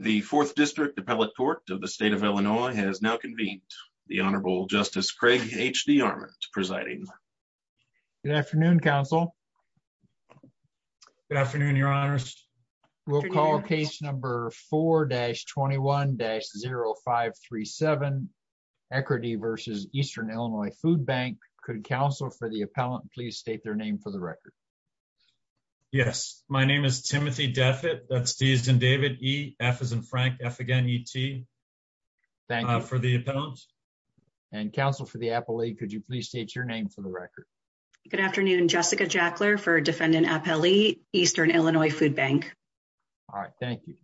The 4th District Appellate Court of the State of Illinois has now convened. The Honorable Justice Craig H.D. Armand presiding. Good afternoon, Counsel. Good afternoon, Your Honors. We'll call case number 4-21-0537, Eckerty v. Eastern Illinois Foodbank. Could Counsel for the Appellant please state their name for the record. Yes, my name is Timothy Deffitt. That's D as in David, E, F as in Frank, F again E-T. Thank you. For the Appellant. And Counsel for the Appellate, could you please state your name for the record. Good afternoon, Jessica Jackler for Defendant Appellee, Eastern Illinois Foodbank. All right, thank you.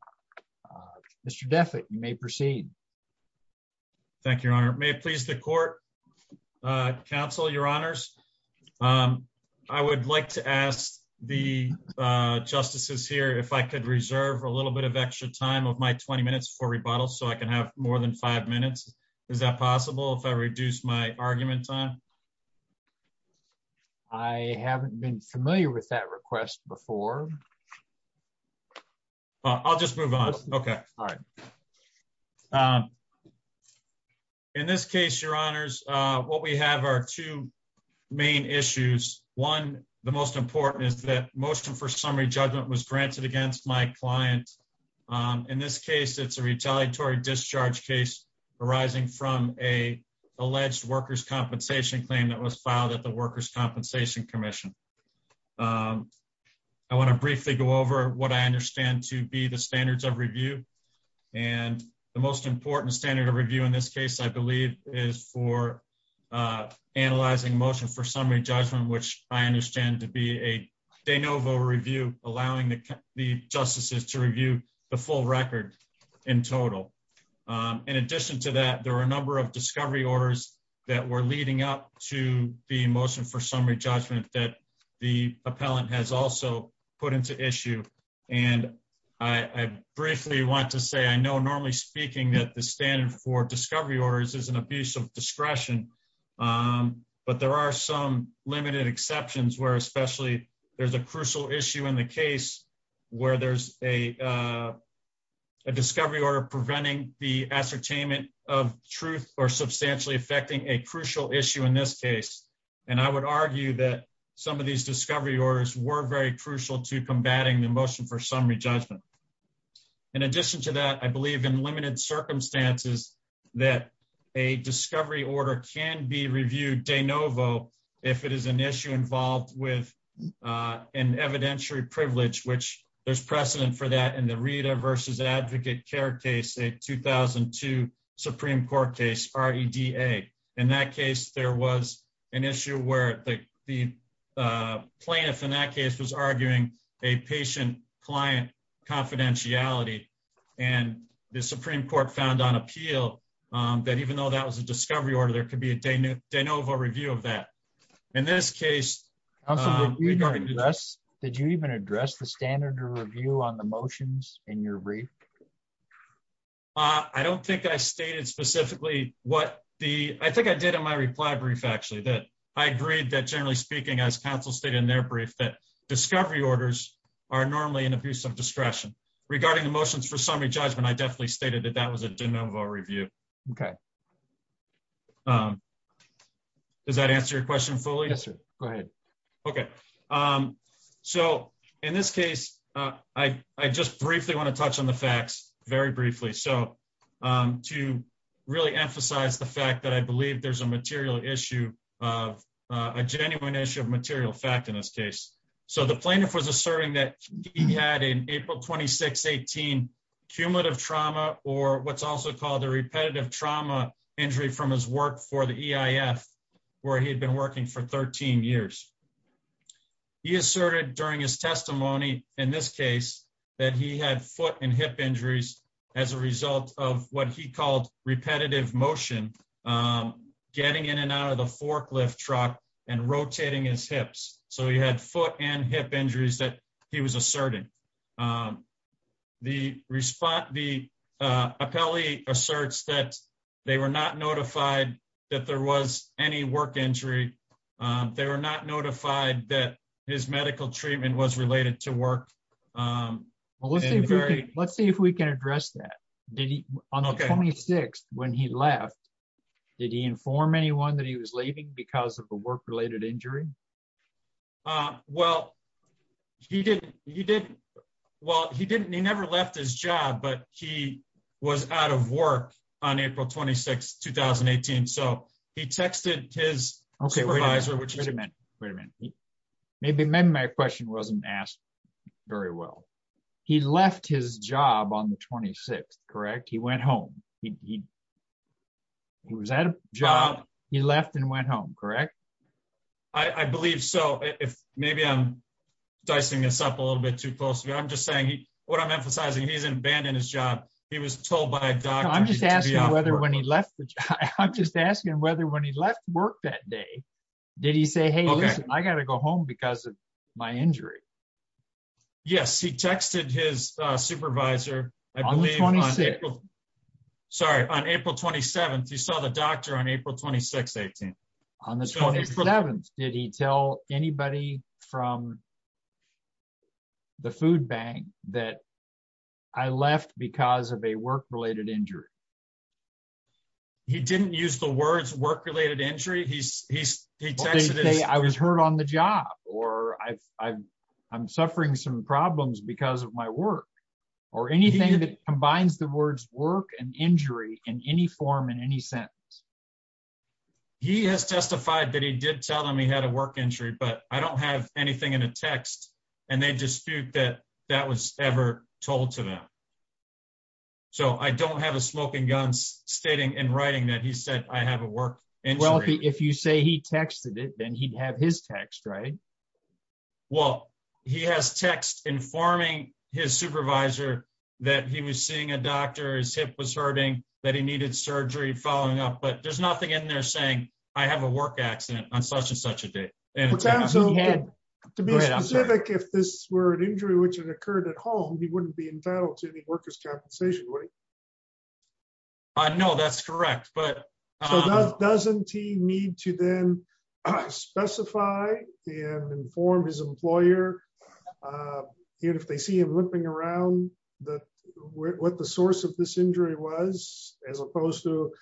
Mr. Deffitt, you may proceed. Thank you, Your Honor. May it please the Court, Counsel, Your Honors. I would like to ask the justices here if I could reserve a little bit of extra time of my 20 minutes for rebuttal so I can have more than five minutes. Is that possible if I reduce my argument time? I haven't been familiar with that request before. I'll just move on. Okay. All right. In this case, Your Honors, what we have are two main issues. One, the most important is that motion for summary judgment was granted against my client. In this case, it's a retaliatory discharge case arising from a alleged workers' compensation claim that was filed at the Workers' Compensation Commission. I want to briefly go over what I understand to be the standards of review. And the most important standard of review in this case, I believe, is for analyzing motion for summary judgment, which I understand to be a de novo review, allowing the justices to review the full record in total. In addition to that, there are a number of discovery orders that were leading up to the motion for summary judgment that the appellant has also put into issue. I briefly want to say I know normally speaking that the standard for discovery orders is an abuse of discretion. But there are some limited exceptions where especially there's a crucial issue in the case where there's a discovery order preventing the ascertainment of truth or substantially affecting a crucial issue in this case. And I would argue that some of these discovery orders were very crucial to combating the motion for summary judgment. In addition to that, I believe in limited circumstances that a discovery order can be reviewed de novo if it is an issue involved with an evidentiary privilege, which there's precedent for that in the Rita versus advocate care case, a 2002 Supreme Court case, R.E.D.A. In that case, there was an issue where the plaintiff in that case was arguing a patient-client confidentiality. And the Supreme Court found on appeal that even though that was a discovery order, there could be a de novo review of that. In this case... Counsel, did you even address the standard to review on the motions in your brief? I don't think I stated specifically what the... I think I did in my reply brief, actually, that I agreed that generally speaking, as counsel stated in their brief, that discovery orders are normally an abuse of discretion. Regarding the motions for summary judgment, I definitely stated that that was a de novo review. Okay. Does that answer your question fully? Yes, sir. Go ahead. Okay. So, in this case, I just briefly want to touch on the facts, very briefly. So, to really emphasize the fact that I believe there's a material issue of... a genuine issue of material fact in this case. So, the plaintiff was asserting that he had, in April 2618, cumulative trauma or what's also called a repetitive trauma injury from his work for the EIF, where he had been working for 13 years. He asserted during his testimony in this case that he had foot and hip injuries as a result of what he called repetitive motion, getting in and out of the forklift truck and rotating his hips. So, he had foot and hip injuries that he was asserting. The appellee asserts that they were not notified that there was any work injury. They were not notified that his medical treatment was related to work. Let's see if we can address that. On the 26th, when he left, did he inform anyone that he was leaving because of a work-related injury? Well, he didn't. He never left his job, but he was out of work on April 26, 2018. So, he texted his supervisor... Okay, wait a minute. Wait a minute. Maybe my question wasn't asked very well. He left his job on the 26th, correct? He went home. He was at a job. He left and went home, correct? I believe so. Maybe I'm dicing this up a little bit too closely. I'm just saying, what I'm emphasizing, he didn't abandon his job. He was told by a doctor... I'm just asking whether when he left work that day, did he say, hey, listen, I got to go home because of my injury? Yes, he texted his supervisor, I believe... On the 26th. Sorry, on April 27th. He saw the doctor on April 26, 2018. On the 27th, did he tell anybody from the food bank that I left because of a work-related injury? He didn't use the words work-related injury. He texted his... He didn't say I was hurt on the job, or I'm suffering some problems because of my work, or anything that combines the words work and injury in any form in any sentence. He has testified that he did tell them he had a work injury, but I don't have anything in a text, and they dispute that that was ever told to them. So I don't have a smoking gun stating in writing that he said I have a work injury. Well, if you say he texted it, then he'd have his text, right? Well, he has text informing his supervisor that he was seeing a doctor, his hip was hurting, that he needed surgery following up, but there's nothing in there saying I have a work accident on such and such a day. To be specific, if this were an injury which had occurred at home, he wouldn't be entitled to any workers' compensation, would he? No, that's correct. So doesn't he need to then specify and inform his employer, even if they see him limping around, what the source of this injury was, as opposed to,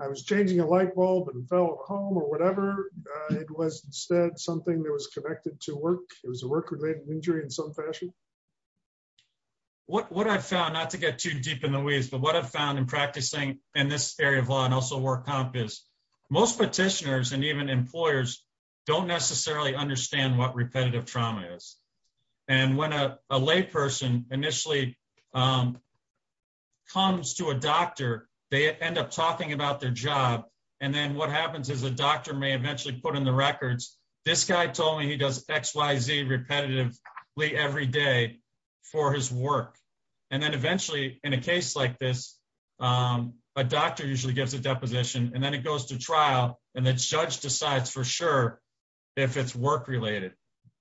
I was changing a light bulb and fell at home, or whatever. It was instead something that was connected to work. It was a work-related injury in some fashion. What I've found, not to get too deep in the weeds, but what I've found in practicing in this area of law and also work comp is most petitioners and even employers don't necessarily understand what repetitive trauma is. When a layperson initially comes to a doctor, they end up talking about their job, and then what happens is a doctor may eventually put in the records, this guy told me he does XYZ repetitively every day for his work. And then eventually, in a case like this, a doctor usually gives a deposition, and then it goes to trial, and the judge decides for sure if it's work-related.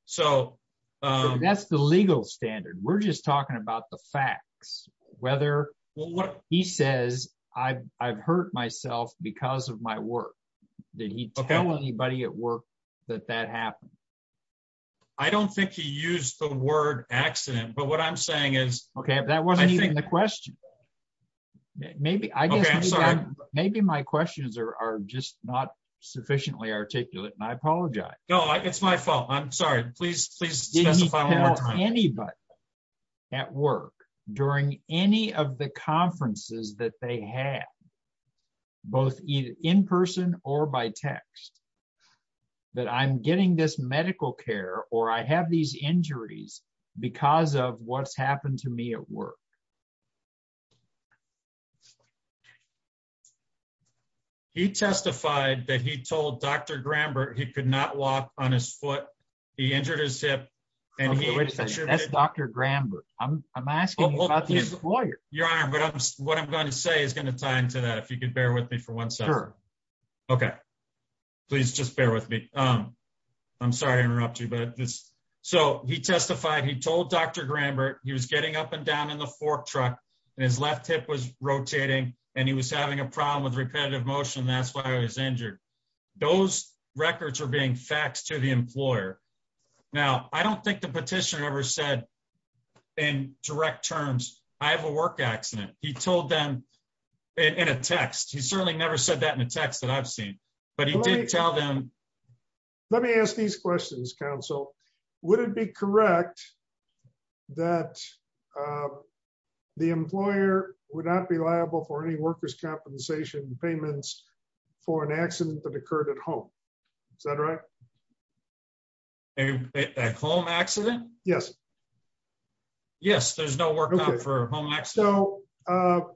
So that's the legal standard. We're just talking about the facts, whether he says, I've hurt myself because of my work. Did he tell anybody at work that that happened? I don't think he used the word accident, but what I'm saying is... Okay, but that wasn't even the question. Maybe my questions are just not sufficiently articulate, and I apologize. No, it's my fault. I'm sorry. Please, please specify one more time. Did he tell anybody at work during any of the conferences that they had, both in person or by text, that I'm getting this medical care or I have these injuries because of what's happened to me at work? He testified that he told Dr. Grambert he could not walk on his foot. He injured his hip. That's Dr. Grambert. I'm asking about the employer. Your Honor, what I'm going to say is going to tie into that, if you could bear with me for one second. Okay, please just bear with me. I'm sorry to interrupt you. So he testified he told Dr. Grambert he was getting up and down in the fork truck, and his left hip was rotating, and he was having a problem with repetitive motion. That's why I was injured. Those records are being faxed to the employer. Now, I don't think the petitioner ever said in direct terms, I have a work accident. He told them in a text. He certainly never said that in a text that I've seen, but he did tell them. Let me ask these questions, counsel. Would it be correct that the employer would not be liable for any workers' compensation payments for an accident that occurred at home? Is that right? A home accident? Yes. Yes, there's no work out for a home accident. So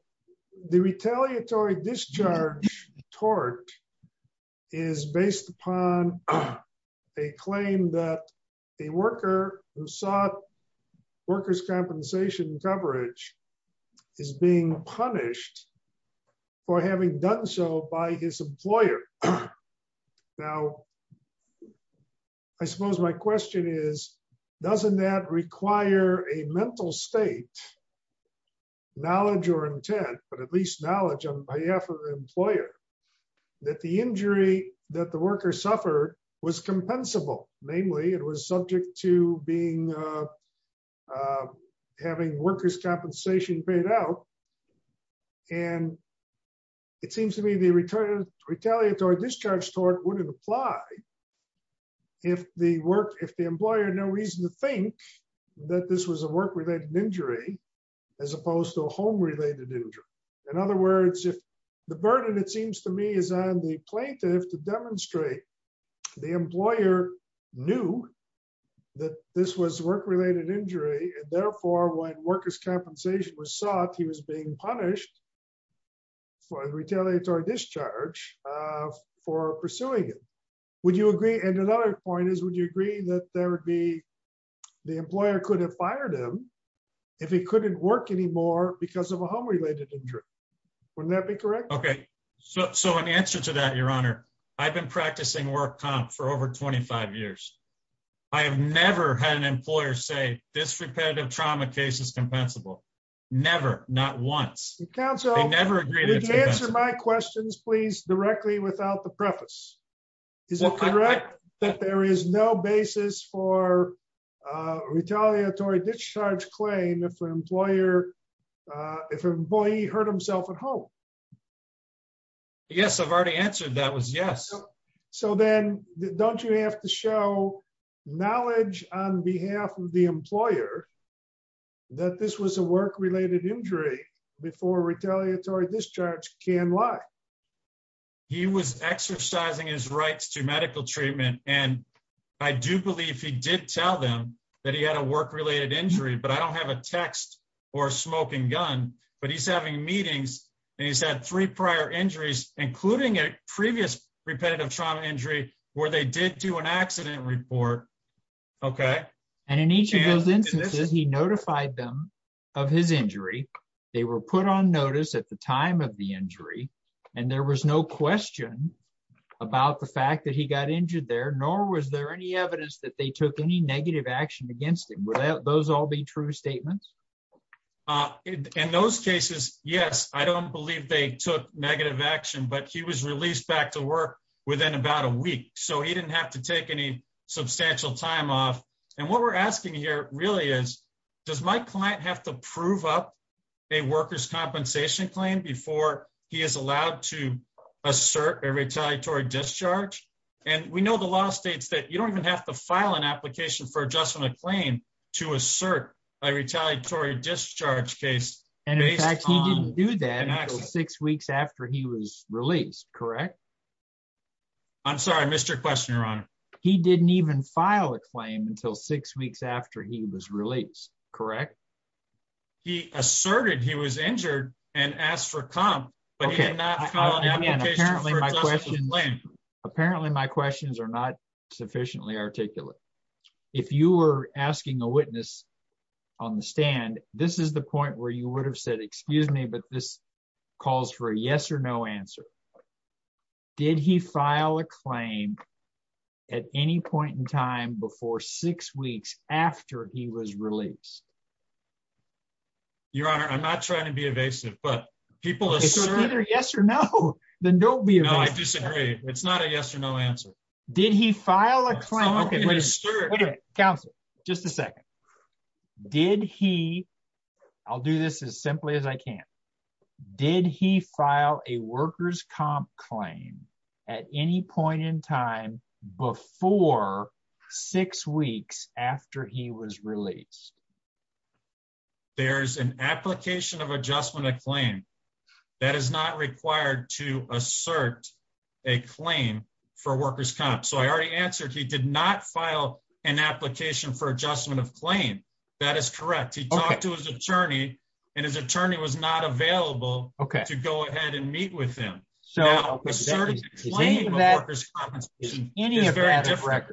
the retaliatory discharge tort is based upon a claim that a worker who sought workers' compensation coverage is being punished for having done so by his employer. Now, I suppose my question is, doesn't that require a mental state, knowledge or intent, but at least knowledge on behalf of the employer, that the injury that the worker suffered was compensable? Namely, it was subject to having workers' compensation paid out. And it seems to me the retaliatory discharge tort wouldn't apply if the employer had no reason to think that this was a work-related injury as opposed to a home-related injury. In other words, if the burden, it seems to me, is on the plaintiff to demonstrate the employer knew that this was work-related injury, and therefore when workers' compensation was sought, he was being punished for the retaliatory discharge for pursuing it. And another point is, would you agree that the employer could have fired him if he couldn't work anymore because of a home-related injury? Wouldn't that be correct? Okay. So in answer to that, Your Honor, I've been practicing work comp for over 25 years. I have never had an employer say, this repetitive trauma case is compensable. Never. Not once. Counsel, answer my questions, please, directly without the preface. Is it correct that there is no basis for a retaliatory discharge claim if an employee hurt himself at home? Yes, I've already answered that was yes. So then don't you have to show knowledge on behalf of the employer that this was a work-related injury before retaliatory discharge can lie? He was exercising his rights to medical treatment, and I do believe he did tell them that he had a work-related injury, but I don't have a text or a smoking gun, but he's having meetings, and he's had three prior injuries, including a previous repetitive trauma injury where they did do an accident report. Okay. And in each of those instances, he notified them of his injury. They were put on notice at the time of the injury, and there was no question about the fact that he got injured there, nor was there any evidence that they took any negative action against him. Would those all be true statements? In those cases, yes, I don't believe they took negative action, but he was released back to work within about a week, so he didn't have to take any substantial time off, and what we're asking here really is, does my client have to prove up a worker's compensation claim before he is allowed to assert a retaliatory discharge? And we know the law states that you don't even have to file an application for adjustment of claim to assert a retaliatory discharge case based on an accident. And in fact, he didn't do that until six weeks after he was released, correct? I'm sorry, I missed your question, Your Honor. He didn't even file a claim until six weeks after he was released, correct? He asserted he was injured and asked for comp, but he did not file an application for adjustment of claim. Apparently, my questions are not sufficiently articulate. If you were asking a witness on the stand, this is the point where you would have said, excuse me, but this calls for a yes or no answer. Did he file a claim at any point in time before six weeks after he was released? Your Honor, I'm not trying to be evasive, but people assert... If they're either yes or no, then don't be evasive. No, I disagree. It's not a yes or no answer. Did he file a claim? Counsel, just a second. Did he, I'll do this as simply as I can. Did he file a worker's comp claim at any point in time before six weeks after he was released? There's an application of adjustment of claim that is not required to assert a claim for worker's comp. So I already answered he did not file an application for adjustment of claim. That is correct. He talked to his attorney and his attorney was not available to go ahead and meet with him. Now, asserting a claim for worker's compensation is very different.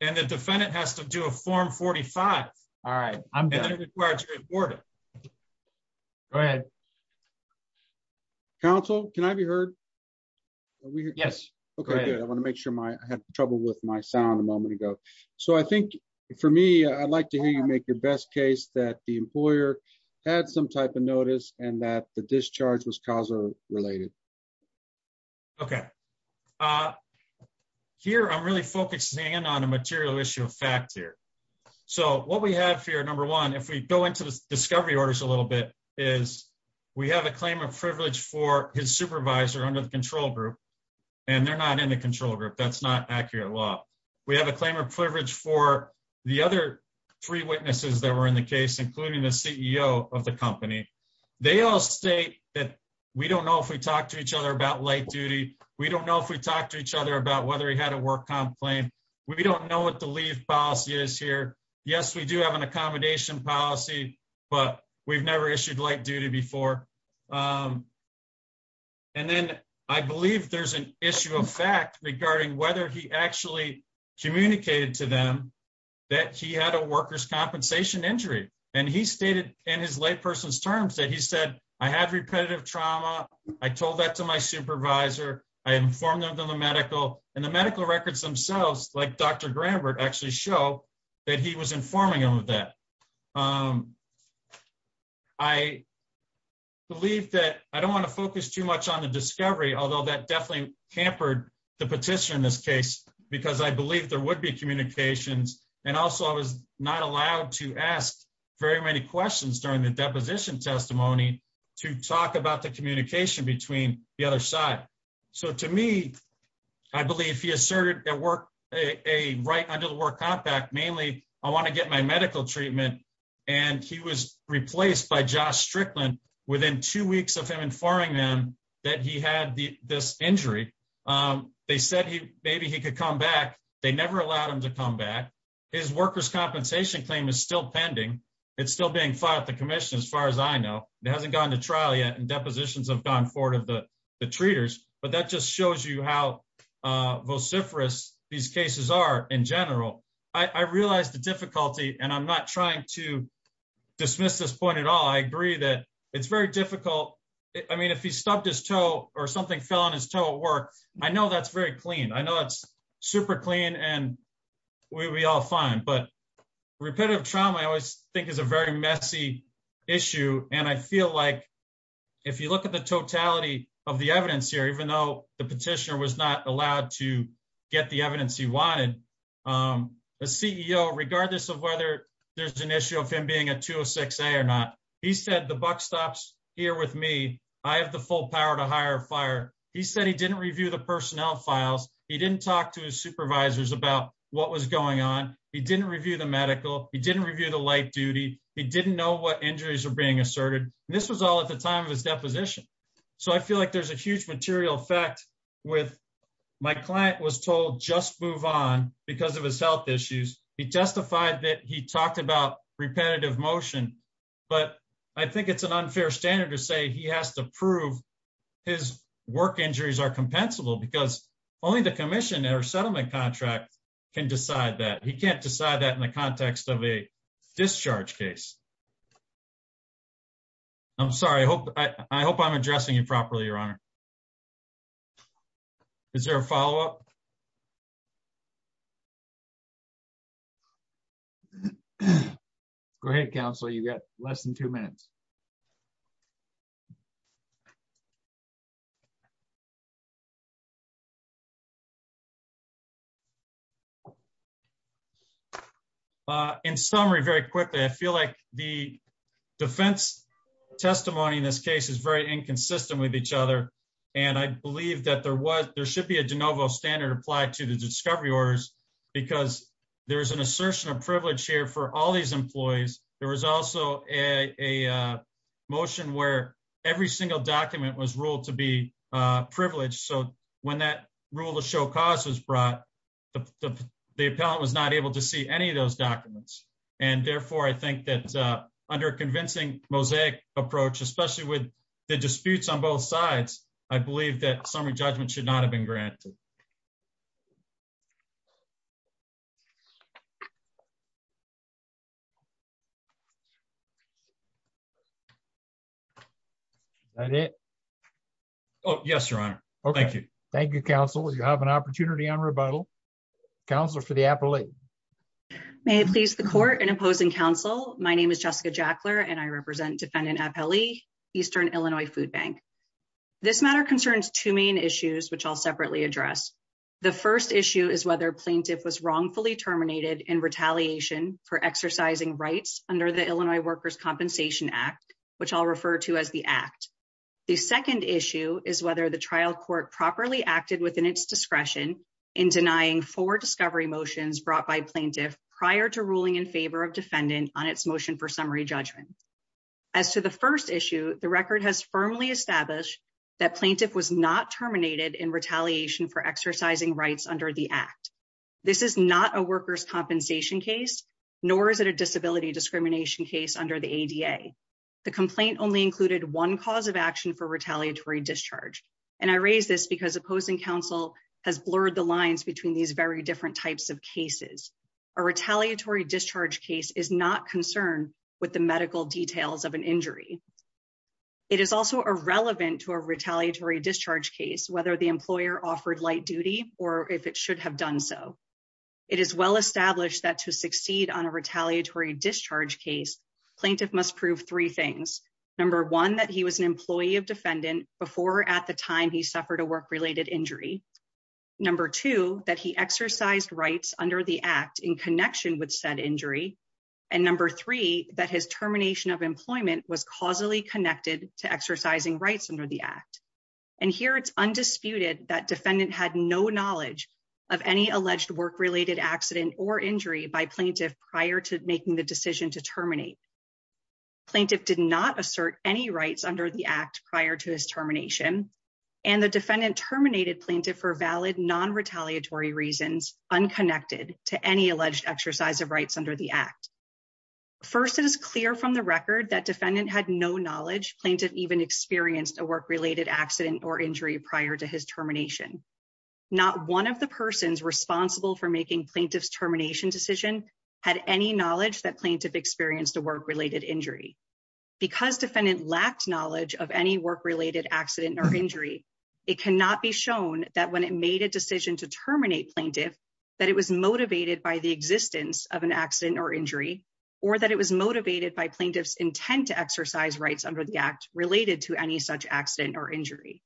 And the defendant has to do a form 45. All right, I'm done. And then it requires a report it. Go ahead. Counsel, can I be heard? Yes. Okay, I want to make sure my, I had trouble with my sound a moment ago. So I think for me, I'd like to hear you make your best case that the employer had some type of notice and that the discharge was causal related. Okay. Here I'm really focusing in on a material issue of fact here. So what we have here. Number one, if we go into the discovery orders a little bit, is we have a claim of privilege for his supervisor under the control group. And they're not in the control group that's not accurate law. We have a claim of privilege for the other three witnesses that were in the case, including the CEO of the company. They all state that we don't know if we talked to each other about light duty. We don't know if we talked to each other about whether he had a work comp claim. We don't know what the leave policy is here. Yes, we do have an accommodation policy, but we've never issued light duty before. And then I believe there's an issue of fact regarding whether he actually communicated to them that he had a workers compensation injury. And he stated in his lay person's terms that he said, I had repetitive trauma. I told that to my supervisor, I informed them to the medical and the medical records themselves like Dr. I believe that I don't want to focus too much on the discovery, although that definitely hampered the petition in this case, because I believe there would be communications. And also, I was not allowed to ask very many questions during the deposition testimony to talk about the communication between the other side. So to me, I believe he asserted at work, a right under the word compact, mainly, I want to get my medical treatment. And he was replaced by Josh Strickland within two weeks of him informing them that he had this injury. They said he maybe he could come back. They never allowed him to come back. His workers compensation claim is still pending. It's still being fought the commission as far as I know, it hasn't gone to trial yet and depositions have gone forward of the treaters, but that just shows you how vociferous these cases are in general, I realized the difficulty and I'm not trying to dismiss this point at all. I agree that it's very difficult. I mean if he stopped his toe, or something fell on his toe at work. I know that's very clean. I know it's super clean and we all find but repetitive trauma I always think is a very messy issue, and I feel like if you look at the totality of the evidence here even though the petitioner was not allowed to get the evidence he wanted a CEO regardless of whether there's an issue of him being a 206 a or not. He said the buck stops here with me. I have the full power to hire fire. He said he didn't review the personnel files, he didn't talk to his supervisors about what was going on. He didn't review the medical, he didn't review the light duty. He didn't know what injuries are being asserted. This was all at the time of his deposition. So I feel like there's a huge material effect with my client was told just move on because of his health issues, he testified that he talked about repetitive motion. But I think it's an unfair standard to say he has to prove his work injuries are compensable because only the commission or settlement contract can decide that he can't decide that in the context of a discharge case. I'm sorry, I hope I hope I'm addressing you properly, Your Honor. Is there a follow up. Great Council you got less than two minutes. Thank you. In summary, very quickly I feel like the defense testimony in this case is very inconsistent with each other. And I believe that there was there should be a de novo standard applied to the discovery orders, because there's an assertion of privilege on the chair for all these employees. There was also a motion where every single document was ruled to be privileged so when that rule of show causes brought the, the, the appellant was not able to see any of those documents, and therefore I think that under convincing mosaic approach, especially with the disputes on both sides. I believe that summary judgment should not have been granted. Yes, Your Honor. Thank you. Thank you counsel you have an opportunity on rebuttal counselor for the appellate. May I please the court and opposing counsel, my name is Jessica Jackler and I represent defendant appellee Eastern Illinois food bank. This matter concerns two main issues which I'll separately address the first issue is whether plaintiff was wrongfully terminated and retaliation for exercising rights under the Illinois workers compensation act, which I'll refer to as the act. The second issue is whether the trial court properly acted within its discretion in denying for discovery motions brought by plaintiff prior to ruling in favor of defendant on its motion for summary judgment. As to the first issue, the record has firmly established that plaintiff was not terminated in retaliation for exercising rights under the act. This is not a workers compensation case, nor is it a disability discrimination case under the ADA. The complaint only included one cause of action for retaliatory discharge, and I raised this because opposing counsel has blurred the lines between these very different types of cases are retaliatory discharge case is not concerned with the medical details of an injury. It is also a relevant to a retaliatory discharge case, whether the employer offered light duty, or if it should have done so. It is well established that to succeed on a retaliatory discharge case plaintiff must prove three things. Number one that he was an employee of defendant before at the time he suffered a work related injury. Number two, that he exercised rights under the act in connection with said injury. And number three, that his termination of employment was causally connected to exercising rights under the act. And here it's undisputed that defendant had no knowledge of any alleged work related accident or injury by plaintiff prior to making the decision to terminate plaintiff did not assert any rights under the act prior to his termination. And the defendant terminated plaintiff for valid non retaliatory reasons, unconnected to any alleged exercise of rights under the act. First, it is clear from the record that defendant had no knowledge plaintiff even experienced a work related accident or injury prior to his termination. Not one of the persons responsible for making plaintiff's termination decision had any knowledge that plaintiff experienced a work related injury. Because defendant lacked knowledge of any work related accident or injury. It cannot be shown that when it made a decision to terminate plaintiff that it was motivated by the existence of an accident or injury, or that it was motivated by plaintiff's intent to exercise rights under the act related to any such accident or injury.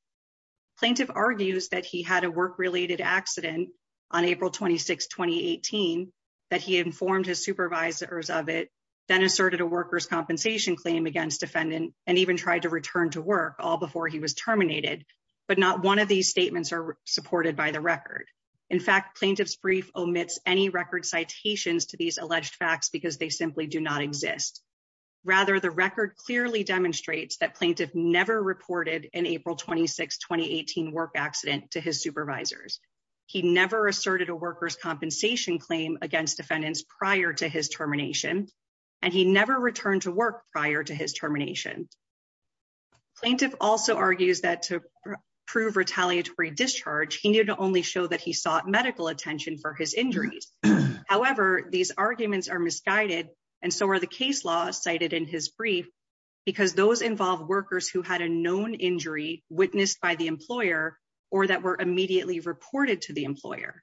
Plaintiff argues that he had a work related accident on April 26 2018 that he informed his supervisors of it, then asserted a workers compensation claim against defendant, and even tried to return to work all before he was terminated. But not one of these statements are supported by the record. In fact plaintiff's brief omits any record citations to these alleged facts because they simply do not exist. Rather, the record clearly demonstrates that plaintiff never reported in April 26 2018 work accident to his supervisors. He never asserted a workers compensation claim against defendants prior to his termination, and he never returned to work prior to his termination. Plaintiff also argues that to prove retaliatory discharge, he needed to only show that he sought medical attention for his injuries. However, these arguments are misguided, and so are the case laws cited in his brief, because those involve workers who had a known injury witnessed by the employer, or that were immediately reported to the employer.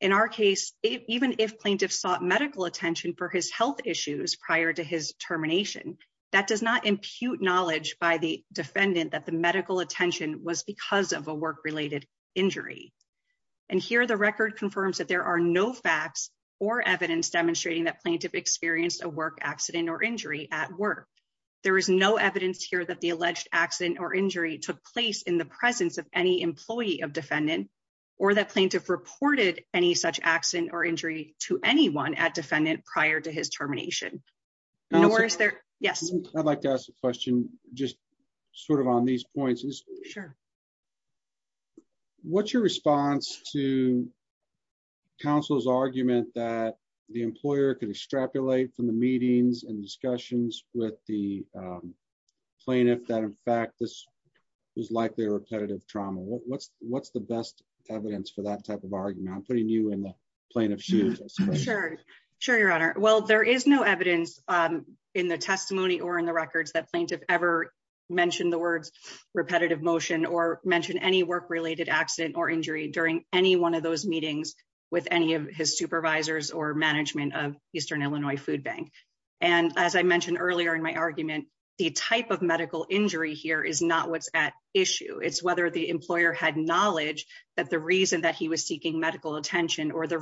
In our case, even if plaintiff sought medical attention for his health issues prior to his termination, that does not impute knowledge by the defendant that the medical attention was because of a work related injury. And here the record confirms that there are no facts or evidence demonstrating that plaintiff experienced a work accident or injury at work. There is no evidence here that the alleged accident or injury took place in the presence of any employee of defendant, or that plaintiff reported any such accident or injury to anyone at defendant prior to his termination. No worries there. Yes, I'd like to ask a question, just sort of on these points is sure. What's your response to counsel's argument that the employer could extrapolate from the meetings and discussions with the plaintiff that in fact this was like their repetitive trauma what's, what's the best evidence for that type of argument putting you in the plane of shoes. Sure, your honor. Well, there is no evidence in the testimony or in the records that plaintiff ever mentioned the words repetitive motion or mentioned any work related accident or injury during any one of those meetings with any of his supervisors or management of or the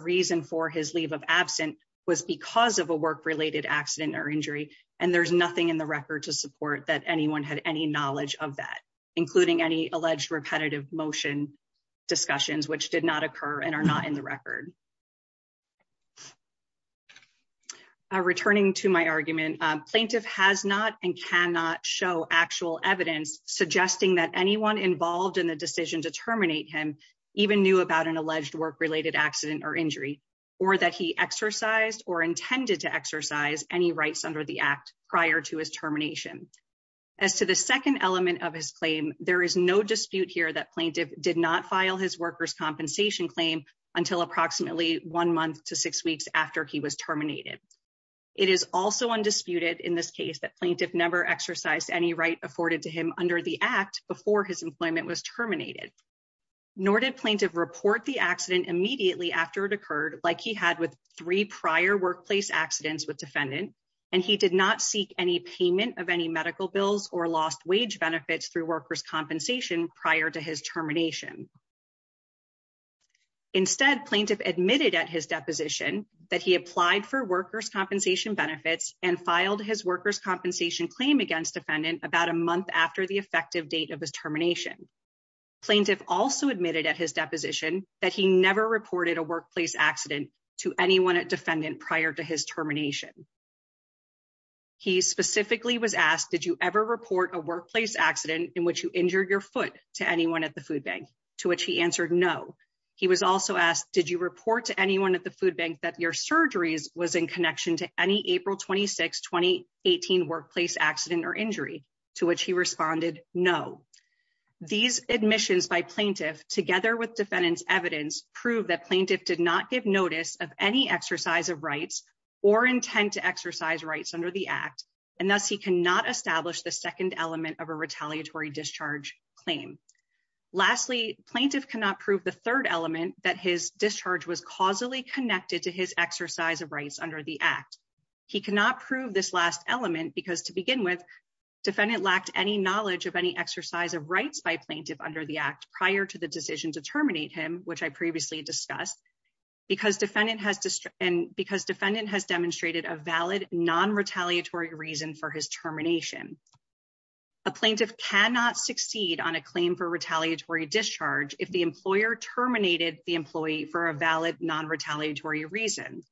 reason for his leave of absent was because of a work related accident or injury, and there's nothing in the record to support that anyone had any knowledge of that, including any alleged repetitive motion discussions which did not occur and are not in the record. Returning to my argument plaintiff has not and cannot show actual evidence, suggesting that anyone involved in the decision to terminate him even knew about an alleged work related accident or injury, or that he exercised or intended to exercise any rights under the act prior to his termination. As to the second element of his claim, there is no dispute here that plaintiff did not file his workers compensation claim until approximately one month to six weeks after he was terminated. It is also undisputed in this case that plaintiff never exercised any right afforded to him under the act before his employment was terminated. Nor did plaintiff report the accident immediately after it occurred like he had with three prior workplace accidents with defendant, and he did not seek any payment of any medical bills or lost wage benefits through workers compensation prior to his termination. Instead plaintiff admitted at his deposition that he applied for workers compensation benefits and filed his workers compensation claim against defendant about a month after the effective date of his termination. Plaintiff also admitted at his deposition that he never reported a workplace accident to anyone at defendant prior to his termination. He specifically was asked, did you ever report a workplace accident in which you injured your foot to anyone at the food bank to which he answered no. He was also asked, did you report to anyone at the food bank that your surgeries was in connection to any April 26, 2018 workplace accident or injury to which he responded no. These admissions by plaintiff together with defendants evidence prove that plaintiff did not give notice of any exercise of rights or intent to exercise rights under the act, and thus he cannot establish the second element of a retaliatory discharge claim. Lastly, plaintiff cannot prove the third element that his discharge was causally connected to his exercise of rights under the act. He cannot prove this last element because to begin with defendant lacked any knowledge of any exercise of rights by plaintiff under the act prior to the decision to terminate him, which I previously discussed. Because defendant has demonstrated a valid non-retaliatory reason for his termination. A plaintiff cannot succeed on a claim for retaliatory discharge if the employer terminated the employee for a valid non-retaliatory reason.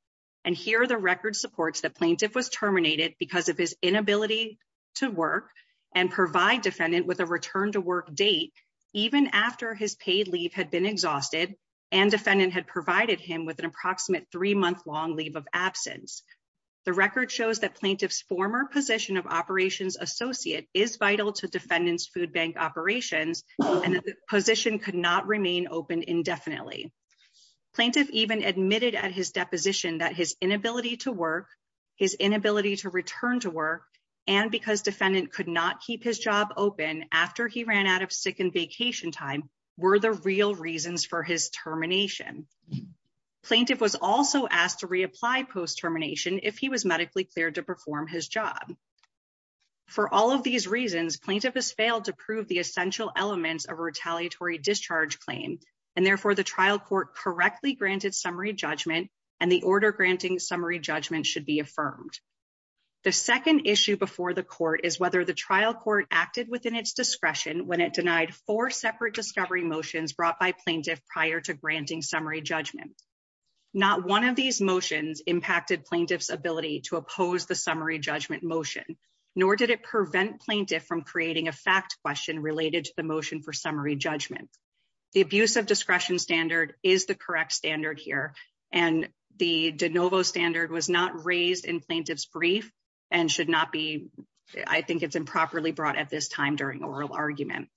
And here the record supports that plaintiff was terminated because of his inability to work and provide defendant with a return to work date, even after his paid leave had been exhausted and defendant had provided him with an approximate three month long leave of absence. The record shows that plaintiff's former position of operations associate is vital to defendants food bank operations and position could not remain open indefinitely. Plaintiff even admitted at his deposition that his inability to work, his inability to return to work, and because defendant could not keep his job open after he ran out of sick and vacation time were the real reasons for his termination. Plaintiff was also asked to reapply post termination if he was medically cleared to perform his job. For all of these reasons plaintiff has failed to prove the essential elements of retaliatory discharge claim and therefore the trial court correctly granted summary judgment and the order granting summary judgment should be affirmed. The second issue before the court is whether the trial court acted within its discretion when it denied four separate discovery motions brought by plaintiff prior to granting summary judgment. Not one of these motions impacted plaintiff's ability to oppose the summary judgment motion, nor did it prevent plaintiff from creating a fact question related to the motion for summary judgment. The abuse of discretion standard is the correct standard here and the de novo standard was not raised in plaintiff's brief and should not be, I think it's improperly brought at this time during oral argument.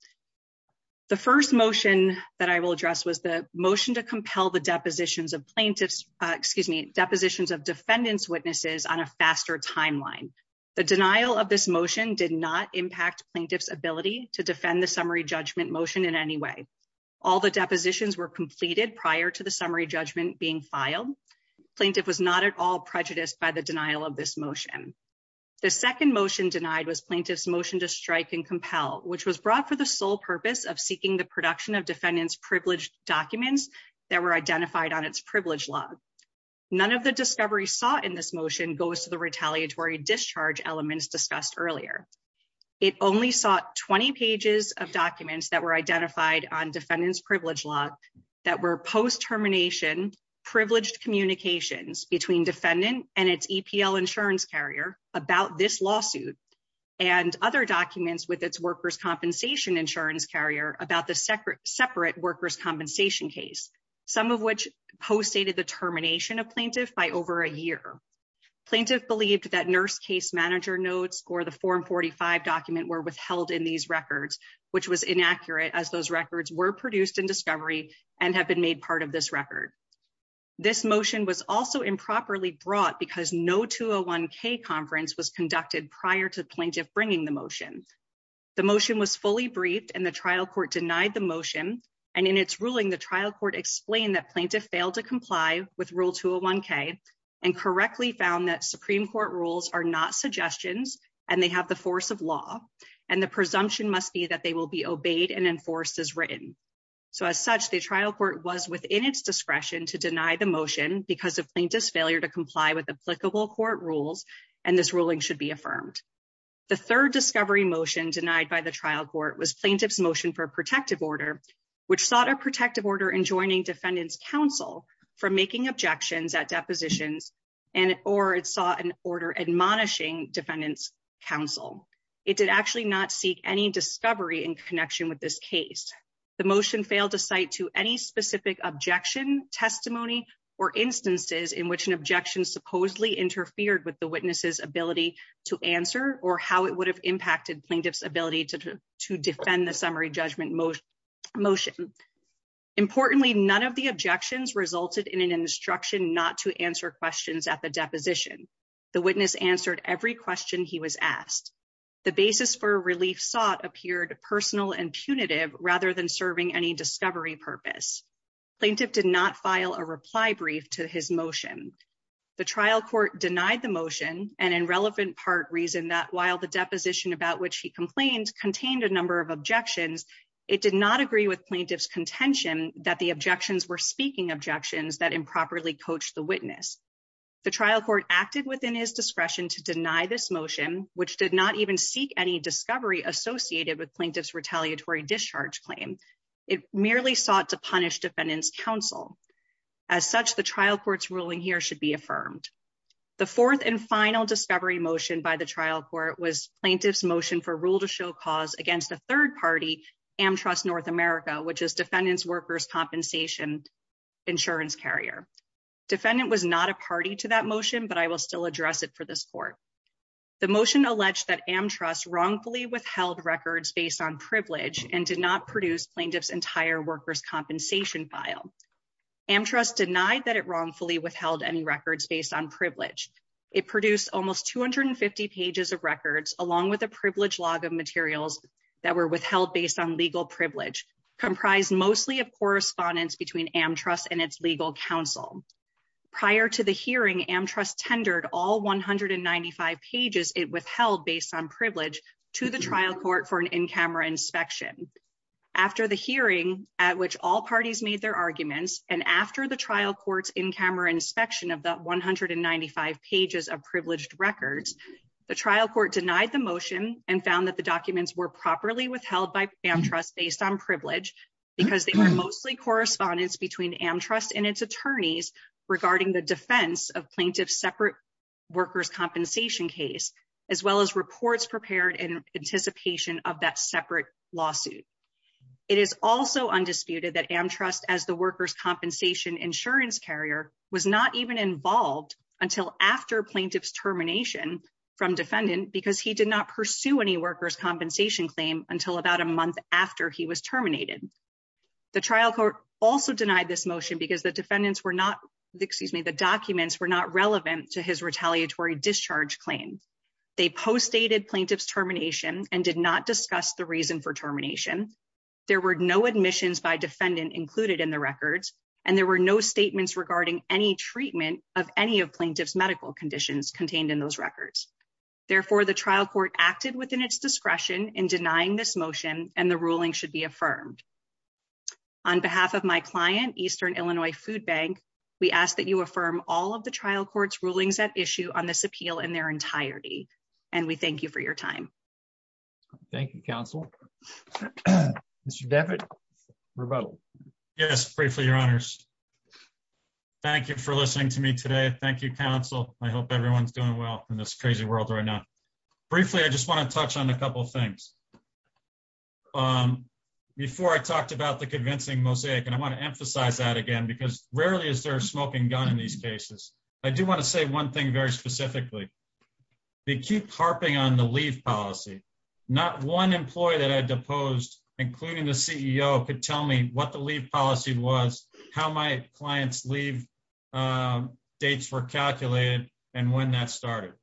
The first motion that I will address was the motion to compel the depositions of plaintiffs, excuse me, depositions of defendants witnesses on a faster timeline. The denial of this motion did not impact plaintiff's ability to defend the summary judgment motion in any way. All the depositions were completed prior to the summary judgment being filed. Plaintiff was not at all prejudiced by the denial of this motion. The second motion denied was plaintiff's motion to strike and compel, which was brought for the sole purpose of seeking the production of defendants privileged documents that were identified on its privilege law. None of the discovery sought in this motion goes to the retaliatory discharge elements discussed earlier. It only sought 20 pages of documents that were identified on defendants privilege law that were post termination privileged communications between defendant and its EPL insurance carrier about this lawsuit. And other documents with its workers compensation insurance carrier about the separate workers compensation case, some of which post dated the termination of plaintiff by over a year. Plaintiff believed that nurse case manager notes or the form 45 document were withheld in these records, which was inaccurate as those records were produced in discovery and have been made part of this record. This motion was also improperly brought because no 201k conference was conducted prior to plaintiff bringing the motion. The motion was fully briefed and the trial court denied the motion and in its ruling the trial court explained that plaintiff failed to comply with rule 201k and correctly found that Supreme Court rules are not suggestions, and they have the force of law. And the presumption must be that they will be obeyed and enforced as written. So, as such, the trial court was within its discretion to deny the motion because of plaintiff's failure to comply with applicable court rules, and this ruling should be affirmed. The third discovery motion denied by the trial court was plaintiff's motion for protective order, which sought a protective order and joining defendants counsel for making objections at depositions and or it saw an order admonishing defendants counsel. It did actually not seek any discovery in connection with this case. The motion failed to cite to any specific objection testimony or instances in which an objection supposedly interfered with the witnesses ability to answer or how it would have impacted plaintiff's ability to defend the summary judgment motion motion. Importantly, none of the objections resulted in an instruction not to answer questions at the deposition. The witness answered every question he was asked the basis for relief sought appeared personal and punitive rather than serving any discovery purpose. Plaintiff did not file a reply brief to his motion. The trial court denied the motion and in relevant part reason that while the deposition about which he complained contained a number of objections. It did not agree with plaintiff's contention that the objections were speaking objections that improperly coach the witness. The trial court acted within his discretion to deny this motion, which did not even seek any discovery associated with plaintiff's retaliatory discharge claim. It merely sought to punish defendants counsel. As such, the trial court's ruling here should be affirmed. The fourth and final discovery motion by the trial court was plaintiff's motion for rule to show cause against the third party am trust North America, which is defendants workers compensation. Insurance carrier defendant was not a party to that motion, but I will still address it for this court. The motion alleged that am trust wrongfully withheld records based on privilege and did not produce plaintiff's entire workers compensation file. Am trust denied that it wrongfully withheld any records based on privilege. It produced almost 250 pages of records, along with a privilege log of materials that were withheld based on legal privilege comprised mostly of correspondence between am trust and its legal counsel. Prior to the hearing am trust tendered all 195 pages it withheld based on privilege to the trial court for an in camera inspection. After the hearing at which all parties made their arguments, and after the trial courts in camera inspection of the 195 pages of privileged records, the trial court denied the motion and found that the documents were properly withheld by am trust based on privilege. Because they were mostly correspondence between am trust and its attorneys regarding the defense of plaintiff separate workers compensation case, as well as reports prepared in anticipation of that separate lawsuit. It is also undisputed that am trust as the workers compensation insurance carrier was not even involved until after plaintiff's termination from defendant because he did not pursue any workers compensation claim until about a month after he was terminated. The trial court also denied this motion because the defendants were not, excuse me, the documents were not relevant to his retaliatory discharge claim. They post dated plaintiff's termination and did not discuss the reason for termination. There were no admissions by defendant included in the records, and there were no statements regarding any treatment of any of plaintiff's medical conditions contained in those records. Therefore, the trial court acted within its discretion in denying this motion, and the ruling should be affirmed. On behalf of my client Eastern Illinois food bank. We ask that you affirm all of the trial courts rulings that issue on this appeal in their entirety, and we thank you for your time. Thank you, counsel. Mr. David rebuttal. Yes, briefly, your honors. Thank you for listening to me today. Thank you, counsel. I hope everyone's doing well in this crazy world right now. Briefly, I just want to touch on a couple of things. Before I talked about the convincing mosaic and I want to emphasize that again because rarely is there a smoking gun in these cases, I do want to say one thing very specifically. They keep harping on the leave policy. Not one employee that I deposed, including the CEO could tell me what the leave policy was, how my clients leave dates were calculated, and when that started.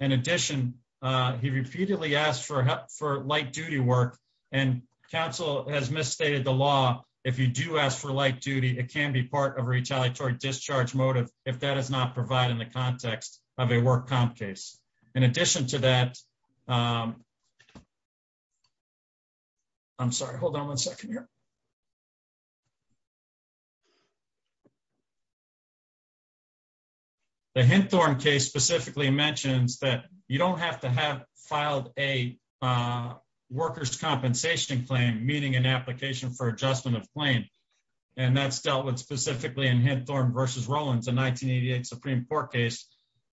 In addition, he repeatedly asked for help for light duty work and counsel has misstated the law. If you do ask for light duty, it can be part of retaliatory discharge motive. If that is not providing the context of a work comp case. In addition to that, I'm sorry, hold on one second here. The Henthorne case specifically mentions that you don't have to have filed a workers compensation claim meeting an application for adjustment of claim. And that's dealt with specifically in Henthorne versus Rollins in 1988 Supreme Court case,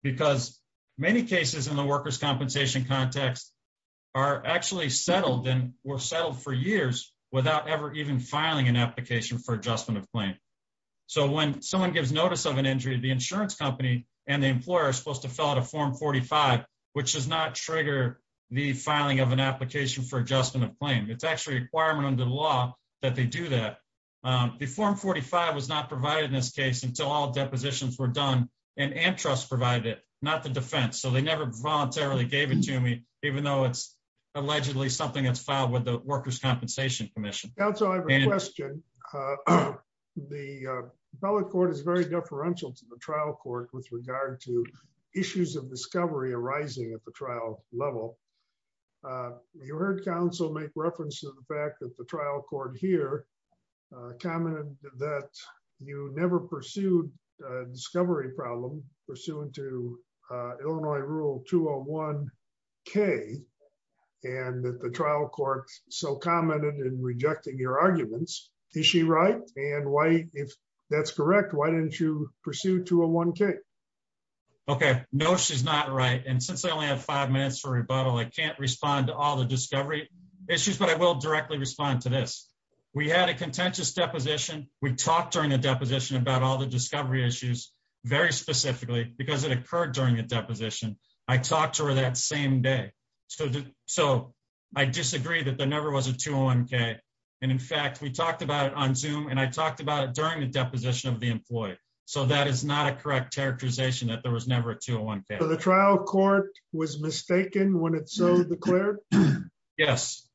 because many cases in the workers compensation context are actually settled and were settled for years without ever even filing an application for adjustment. So when someone gives notice of an injury to the insurance company, and the employer is supposed to fill out a form 45, which does not trigger the filing of an application for adjustment of claim, it's actually a requirement under the law that they do that. The form 45 was not provided in this case until all depositions were done, and Antrust provided it, not the defense so they never voluntarily gave it to me, even though it's allegedly something that's filed with the workers compensation commission. So I have a question. The public court is very differential to the trial court with regard to issues of discovery arising at the trial level. You heard counsel make reference to the fact that the trial court here commented that you never pursued discovery problem, pursuant to Illinois Rule 201k, and that the trial court so commented in rejecting your arguments. Is she right? And why, if that's correct, why didn't you pursue 201k? Okay, no she's not right and since I only have five minutes for rebuttal I can't respond to all the discovery issues but I will directly respond to this. We had a contentious deposition, we talked during the deposition about all the discovery issues, very specifically because it occurred during the deposition, I talked to her that same day. So, I disagree that there never was a 201k. And in fact we talked about it on zoom and I talked about it during the deposition of the employee. So that is not a correct characterization that there was never a 201k. So the trial court was mistaken when it's so declared? Yes.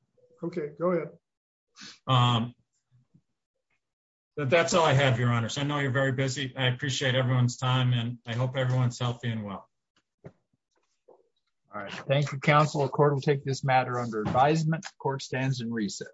Okay, go ahead. That's all I have your honor so I know you're very busy, I appreciate everyone's time and I hope everyone's healthy and well. All right. Thank you, counsel. The court will take this matter under advisement. Court stands in recess.